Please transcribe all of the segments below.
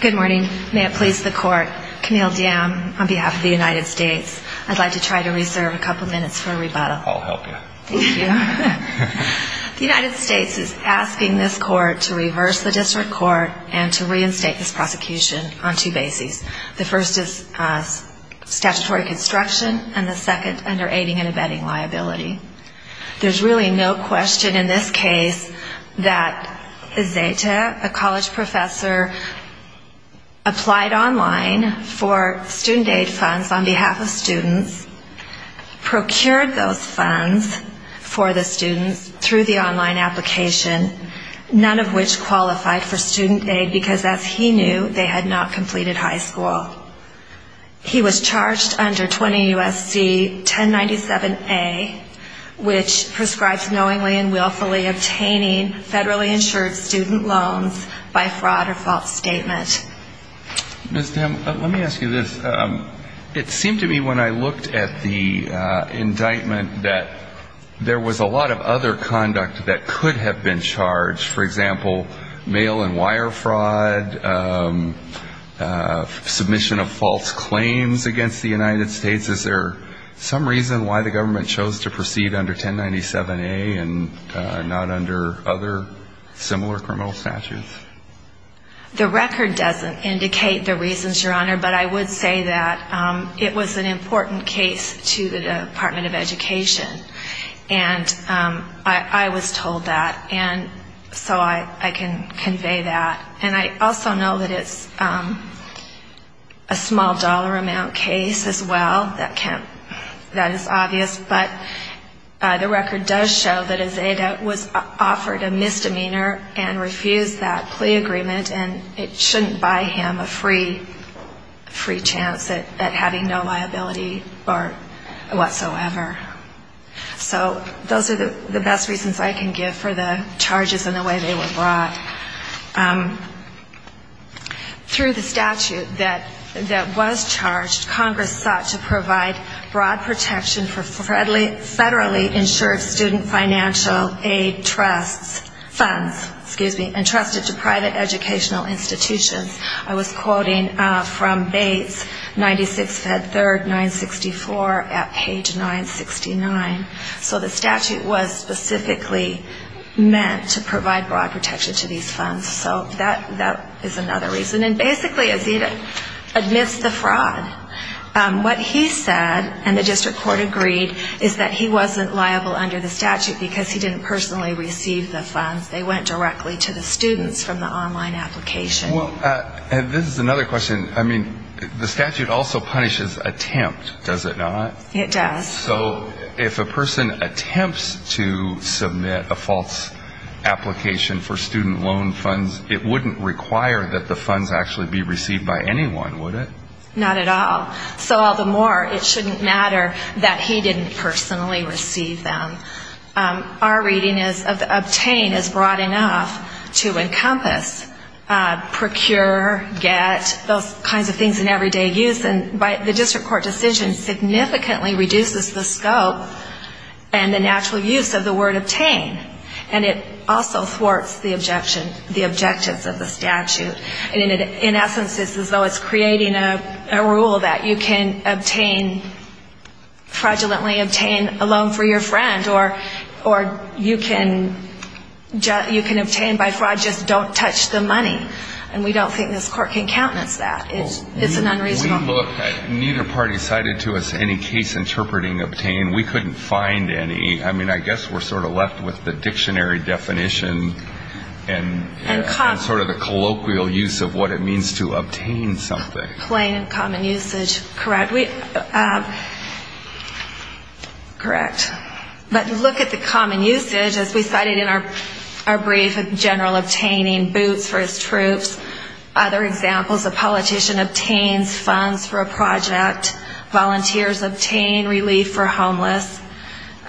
Good morning. May it please the Court. Camille Diem on behalf of the United States. I'd like to try to reserve a couple minutes for a rebuttal. I'll help you. Thank you. The United States is asking this Court to reverse the district court and to reinstate this prosecution on two bases. The first is statutory construction and the second under aiding and abetting liability. There's really no question in this case that Ezeta, a college professor, applied online for student aid funds on behalf of students, procured those funds for the students through the online application, none of which qualified for student aid because, as he knew, they had not completed high school. He was charged under 20 U.S.C. 1097A, which prescribes knowingly and willfully obtaining federally insured student loans by fraud or false statement. Ms. Diem, let me ask you this. It seemed to me when I looked at the indictment that there was a lot of other conduct that could have been charged, for example, mail and wire fraud, submission of false claims against the United States. Is there some reason why the government chose to proceed under 1097A and not under other similar criminal statutes? The record doesn't indicate the reasons, Your Honor, but I would say that it was an important case to the Department of Education. And I was told that, and so I can convey that. And I also know that it's a small dollar amount case as well. That is obvious. But the record does show that Ezeta was offered a misdemeanor and refused that plea agreement, and it shouldn't buy him a free chance at having no liability or whatsoever. So those are the best reasons I can give for the charges and the way they were brought. Through the statute that was charged, Congress sought to provide broad protection for federally insured student financial aid trusts, funds, excuse me, entrusted to private educational institutions. I was quoting from Bates, 96 Fed 3rd, 964, at page 969. So the statute was specifically meant to provide broad protection to these funds. So that is another reason. And basically, Ezeta admits the fraud. What he said, and the district court agreed, is that he wasn't liable under the statute because he didn't personally receive the funds. They went directly to the students from the online application. And this is another question. I mean, the statute also punishes attempt, does it not? It does. So if a person attempts to submit a false application for student loan funds, it wouldn't require that the funds actually be received by anyone, would it? Not at all. So all the more it shouldn't matter that he didn't personally receive them. Our reading is that obtain is broad enough to encompass procure, get, those kinds of things in everyday use. And the district court decision significantly reduces the scope and the natural use of the word obtain. And it also thwarts the objection, the objectives of the statute. In essence, it's as though it's creating a rule that you can obtain, fraudulently obtain a loan for your friend, or you can obtain by fraud, just don't touch the money. And we don't think this court can countenance that. It's unreasonable. When we looked, neither party cited to us any case interpreting obtain. We couldn't find any. I mean, I guess we're sort of left with the dictionary definition and sort of the colloquial use of what it means to obtain something. Plain and common usage. Correct. But look at the common usage as we cited in our brief of general obtaining, boots for his troops, other examples, a politician obtains funds for a project, volunteers obtain relief for homeless.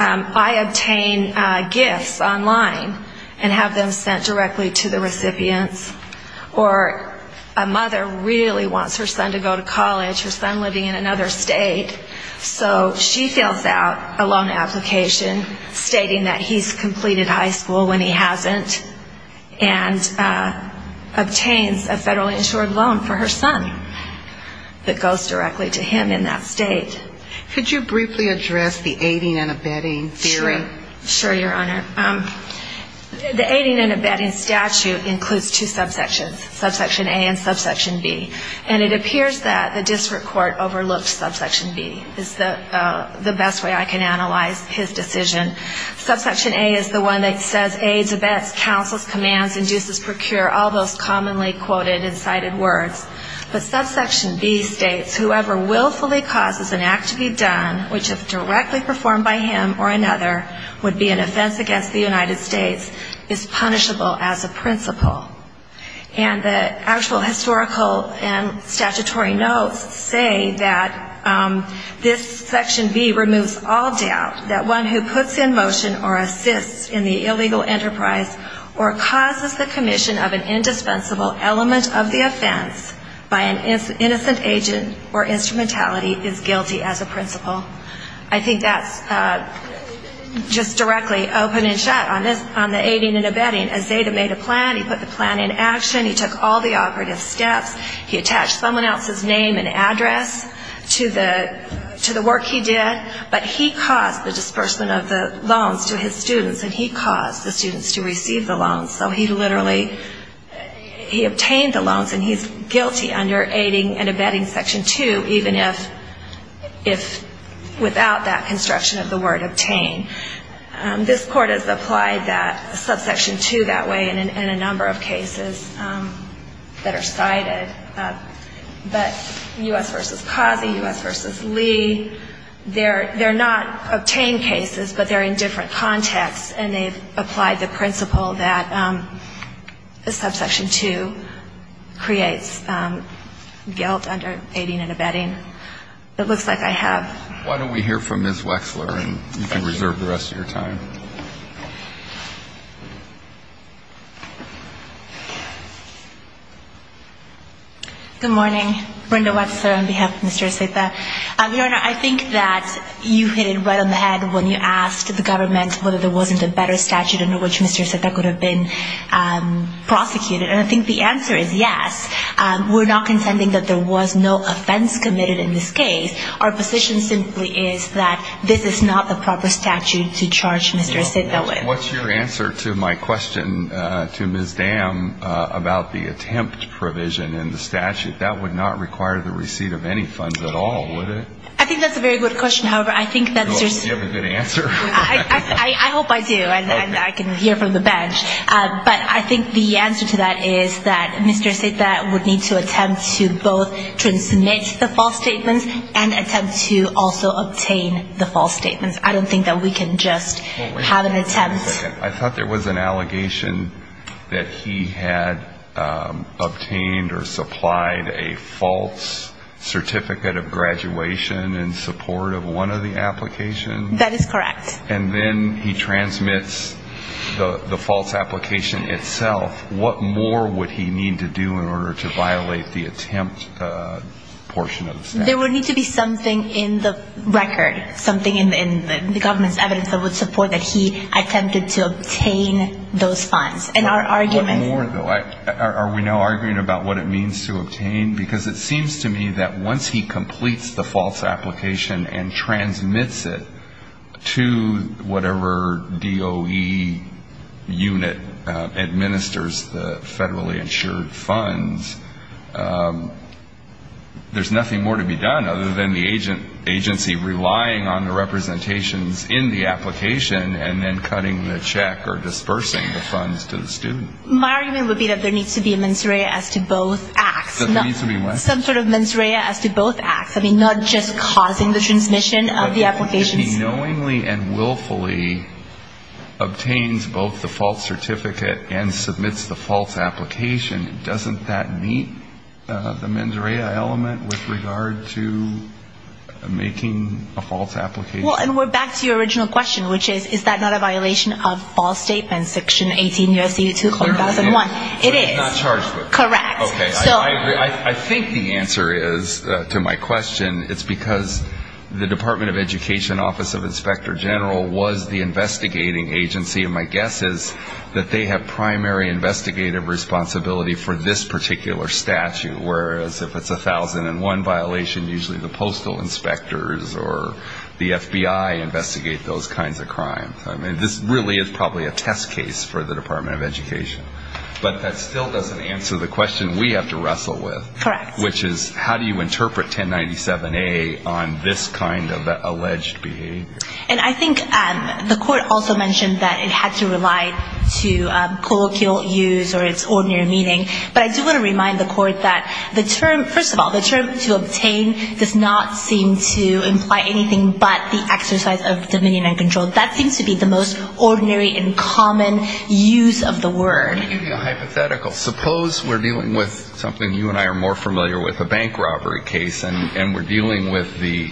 I obtain gifts online and have them sent directly to the recipients. Or a mother really wants her son to go to college, her son living in another state. So she fills out a loan application stating that he's completed high school when he hasn't and obtains a federally insured loan for her son that goes directly to him in that state. Could you briefly address the aiding and abetting theory? Sure, Your Honor. The aiding and abetting statute includes two subsections, subsection A and subsection B. And it appears that the district court overlooked subsection B is the best way I can analyze his decision. Subsection A is the one that says aids, abets, counsels, commands, induces, procure, all those commonly quoted and cited words. But subsection B states whoever willfully causes an act to be done, which if directly performed by him or another, would be an offense against the United States, is punishable as a principle. And the actual historical and statutory notes say that this section B removes all doubt that one who puts in motion or assists in the illegal enterprise or causes the commission of an indispensable element of the offense by an innocent agent or instrumentality is guilty as a principle. I think that's just directly open and shut on the aiding and abetting. As Zeta made a plan, he put the plan in action, he took all the operative steps, he attached someone else's name and address to the work he did. But he caused the disbursement of the loans to his students and he caused the students to receive the loans. So he literally, he obtained the loans and he's guilty under aiding and abetting section 2 even if without that construction of the word obtain. This court has applied that subsection 2 that way in a number of cases that are cited. But U.S. v. Cozzi, U.S. v. Lee, they're not obtained cases but they're in different contexts and they've applied the principle that subsection 2 creates guilt under aiding and abetting. It looks like I have. Why don't we hear from Ms. Wexler and you can reserve the rest of your time. Good morning. Brenda Wexler on behalf of Mr. Zeta. Your Honor, I think that you hit it right on the head when you asked the government whether there wasn't a better statute under which Mr. Zeta could have been prosecuted. And I think the answer is yes. We're not contending that there was no offense committed in this case. Our position simply is that this is not the proper statute to charge Mr. Zeta with. What's your answer to my question to Ms. Dam about the attempt provision in the statute? That would not require the receipt of any funds at all, would it? I think that's a very good question. However, I think that there's... Do you have a good answer? I hope I do and I can hear from the bench. But I think the answer to that is that Mr. Zeta would need to attempt to both transmit the false statements and attempt to also obtain the false statements. I don't think that we can just have an attempt... I thought there was an allegation that he had obtained or supplied a false certificate of graduation in support of one of the applications. That is correct. And then he transmits the false application itself. What more would he need to do in order to violate the attempt portion of the statute? There would need to be something in the record, something in the government's evidence that would support that he attempted to obtain those funds. And our argument... What more, though? Are we now arguing about what it means to obtain? Because it seems to me that once he completes the false application and transmits it to whatever DOE unit administers the federally insured funds, there's nothing more to be done other than the agency relying on the representations in the application and then cutting the check or dispersing the funds to the student. My argument would be that there needs to be a mens rea as to both acts. There needs to be what? Some sort of mens rea as to both acts. I mean, not just causing the transmission of the applications. But if he knowingly and willfully obtains both the false certificate and submits the false application, doesn't that meet the mens rea element with regard to making a false application? Well, and we're back to your original question, which is, is that not a violation of Ball Statement Section 18 U.S.C. 2001? It is. It's not charged with it. Correct. Okay. I agree. I think the answer is, to my question, it's because the Department of Education Office of Inspector General was the investigating agency, and my guess is that they have primary investigative responsibility for this particular statute, whereas if it's a 1001 violation, usually the postal inspectors or the FBI investigate those kinds of crimes. I mean, this really is probably a test case for the Department of Education. But that still doesn't answer the question we have to wrestle with. Correct. Which is, how do you interpret 1097A on this kind of alleged behavior? And I think the court also mentioned that it had to rely to colloquial use or its ordinary meaning. But I do want to remind the court that the term, first of all, the term to obtain does not seem to imply anything but the exercise of dominion and control. That seems to be the most ordinary and common use of the word. Let me give you a hypothetical. Suppose we're dealing with something you and I are more familiar with, a bank robbery case, and we're dealing with the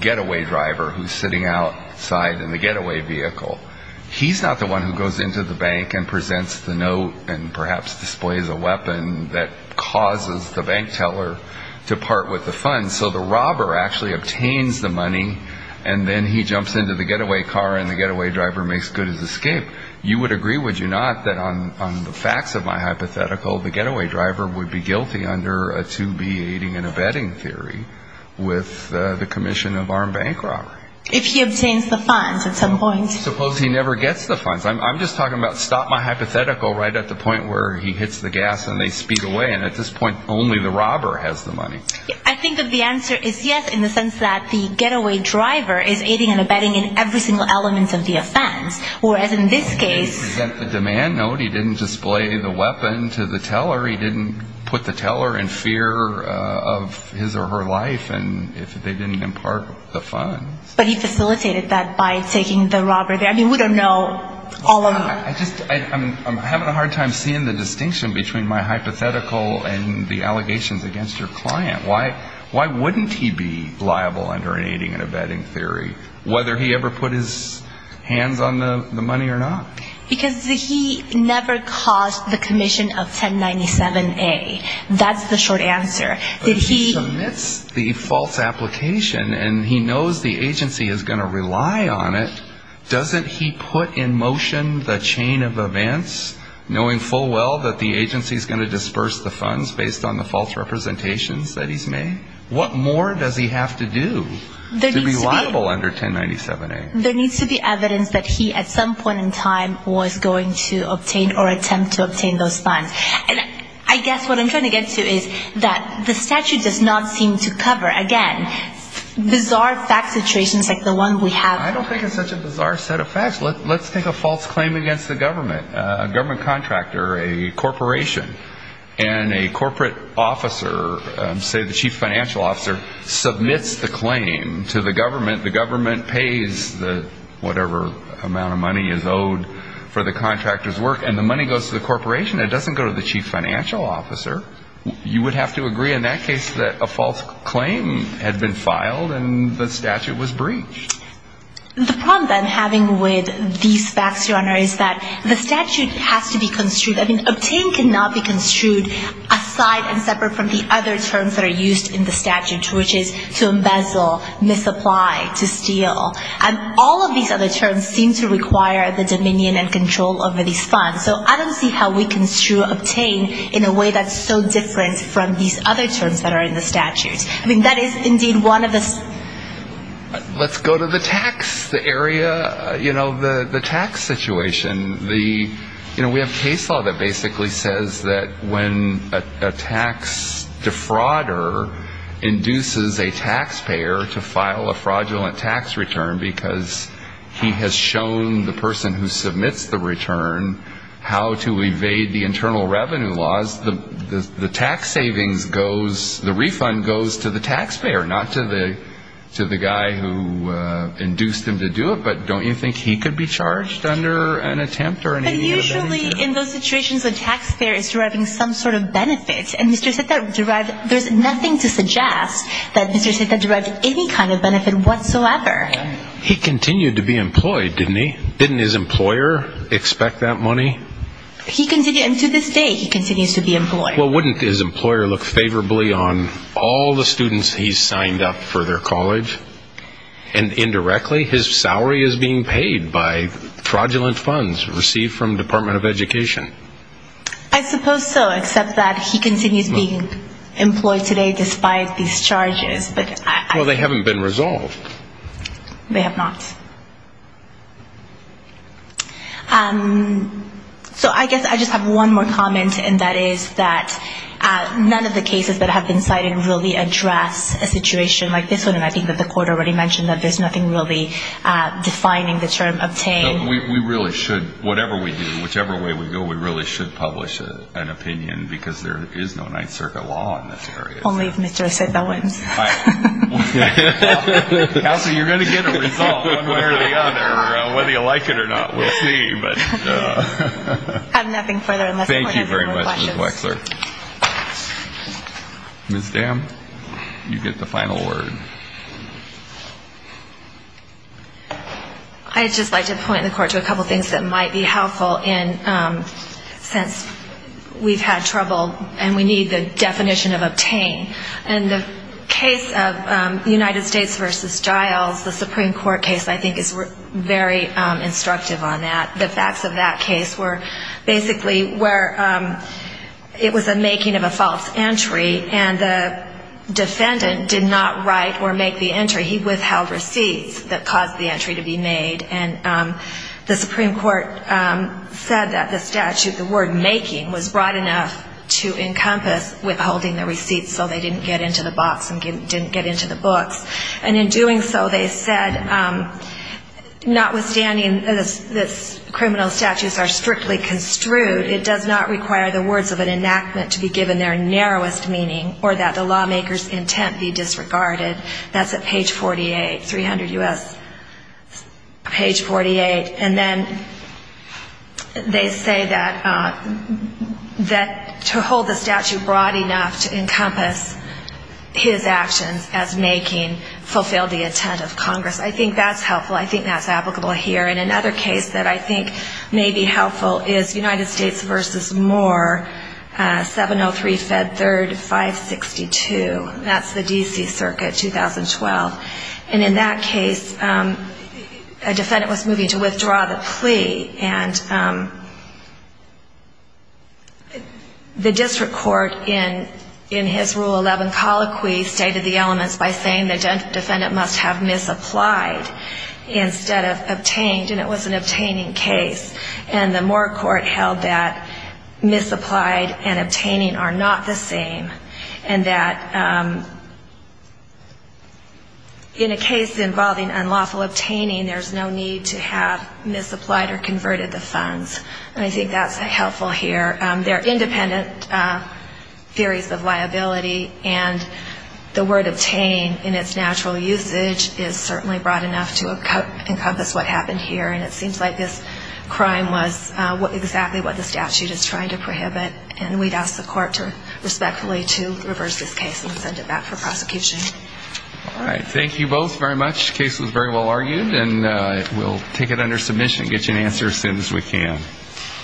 getaway driver who's sitting outside in the getaway vehicle. He's not the one who goes into the bank and presents the note and perhaps displays a weapon that causes the bank teller to part with the funds. So the robber actually obtains the money, and then he jumps into the getaway car, and the getaway driver makes good his escape. You would agree, would you not, that on the facts of my hypothetical, the getaway driver would be guilty under a 2B aiding and abetting theory with the commission of armed bank robbery? If he obtains the funds at some point. Suppose he never gets the funds. I'm just talking about stop my hypothetical right at the point where he hits the gas and they speed away, and at this point only the robber has the money. I think that the answer is yes in the sense that the getaway driver is aiding and abetting in every single element of the offense, whereas in this case. He didn't present the demand note. He didn't display the weapon to the teller. He didn't put the teller in fear of his or her life if they didn't impart the funds. But he facilitated that by taking the robber there. I mean, we don't know all of them. I'm having a hard time seeing the distinction between my hypothetical and the allegations against your client. Why wouldn't he be liable under an aiding and abetting theory, whether he ever put his hands on the money or not? Because he never caused the commission of 1097A. That's the short answer. But if he submits the false application and he knows the agency is going to rely on it, doesn't he put in motion the chain of events knowing full well that the agency is going to disperse the funds based on the false representations that he's made? What more does he have to do to be liable under 1097A? There needs to be evidence that he at some point in time was going to obtain or attempt to obtain those funds. I guess what I'm trying to get to is that the statute does not seem to cover, again, bizarre fact situations like the one we have. I don't think it's such a bizarre set of facts. Let's take a false claim against the government. A government contractor, a corporation, and a corporate officer, say the chief financial officer, submits the claim to the government. The government pays whatever amount of money is owed for the contractor's work, and the money goes to the corporation. It doesn't go to the chief financial officer. You would have to agree in that case that a false claim had been filed and the statute was breached. The problem that I'm having with these facts, Your Honor, is that the statute has to be construed. I mean, obtain cannot be construed aside and separate from the other terms that are used in the statute, which is to embezzle, misapply, to steal. And all of these other terms seem to require the dominion and control over these funds. So I don't see how we can obtain in a way that's so different from these other terms that are in the statute. I mean, that is indeed one of the ‑‑ Let's go to the tax area, you know, the tax situation. You know, we have case law that basically says that when a tax defrauder induces a taxpayer to file a fraudulent tax return because he has shown the person who submits the return how to evade the internal revenue laws, the tax savings goes ‑‑ the refund goes to the taxpayer, not to the guy who induced him to do it. But don't you think he could be charged under an attempt or any of that? But usually in those situations, the taxpayer is deriving some sort of benefit. And Mr. Seta derives ‑‑ there's nothing to suggest that Mr. Seta derives any kind of benefit whatsoever. He continued to be employed, didn't he? Didn't his employer expect that money? He continued, and to this day he continues to be employed. Well, wouldn't his employer look favorably on all the students he's signed up for their college? And indirectly, his salary is being paid by fraudulent funds received from the Department of Education. I suppose so, except that he continues being employed today despite these charges. Well, they haven't been resolved. They have not. So I guess I just have one more comment, and that is that none of the cases that have been cited really address a situation like this one, and I think that the court already mentioned that there's nothing really defining the term obtained. We really should, whatever we do, whichever way we go, we really should publish an opinion because there is no Ninth Circuit law in this area. Only if Mr. Seta wins. Counsel, you're going to get a result one way or the other. Whether you like it or not, we'll see. I have nothing further unless the court has any more questions. Thank you very much, Ms. Wexler. Ms. Dam, you get the final word. I'd just like to point the court to a couple of things that might be helpful since we've had trouble and we need the definition of obtained. In the case of United States v. Giles, the Supreme Court case, I think, is very instructive on that. The facts of that case were basically where it was a making of a false entry and the defendant did not write or make the entry. He withheld receipts that caused the entry to be made, and the Supreme Court said that the statute, the word making, was broad enough to encompass withholding the receipts so they didn't get into the box and didn't get into the books. And in doing so, they said, notwithstanding that criminal statutes are strictly construed, it does not require the words of an enactment to be given their narrowest meaning or that the lawmaker's intent be disregarded. That's at page 48, 300 U.S. page 48. And then they say that to hold the statute broad enough to encompass his actions as making fulfill the intent of Congress. I think that's helpful. I think that's applicable here. And another case that I think may be helpful is United States v. Moore, 703 Fed 3rd 562. That's the D.C. Circuit, 2012. And in that case, a defendant was moving to withdraw the plea. And the district court in his Rule 11 colloquy stated the elements by saying the defendant must have misapplied instead of obtained, and it was an obtaining case. And the Moore court held that misapplied and obtaining are not the same and that in a case involving unlawful obtaining, there's no need to have misapplied or converted the funds. And I think that's helpful here. They're independent theories of liability, and the word obtain in its natural usage is certainly broad enough to encompass what happened here. And it seems like this crime was exactly what the statute is trying to prohibit. And we'd ask the court to respectfully to reverse this case and send it back for prosecution. All right. Thank you both very much. The case was very well argued, and we'll take it under submission and get you an answer as soon as we can.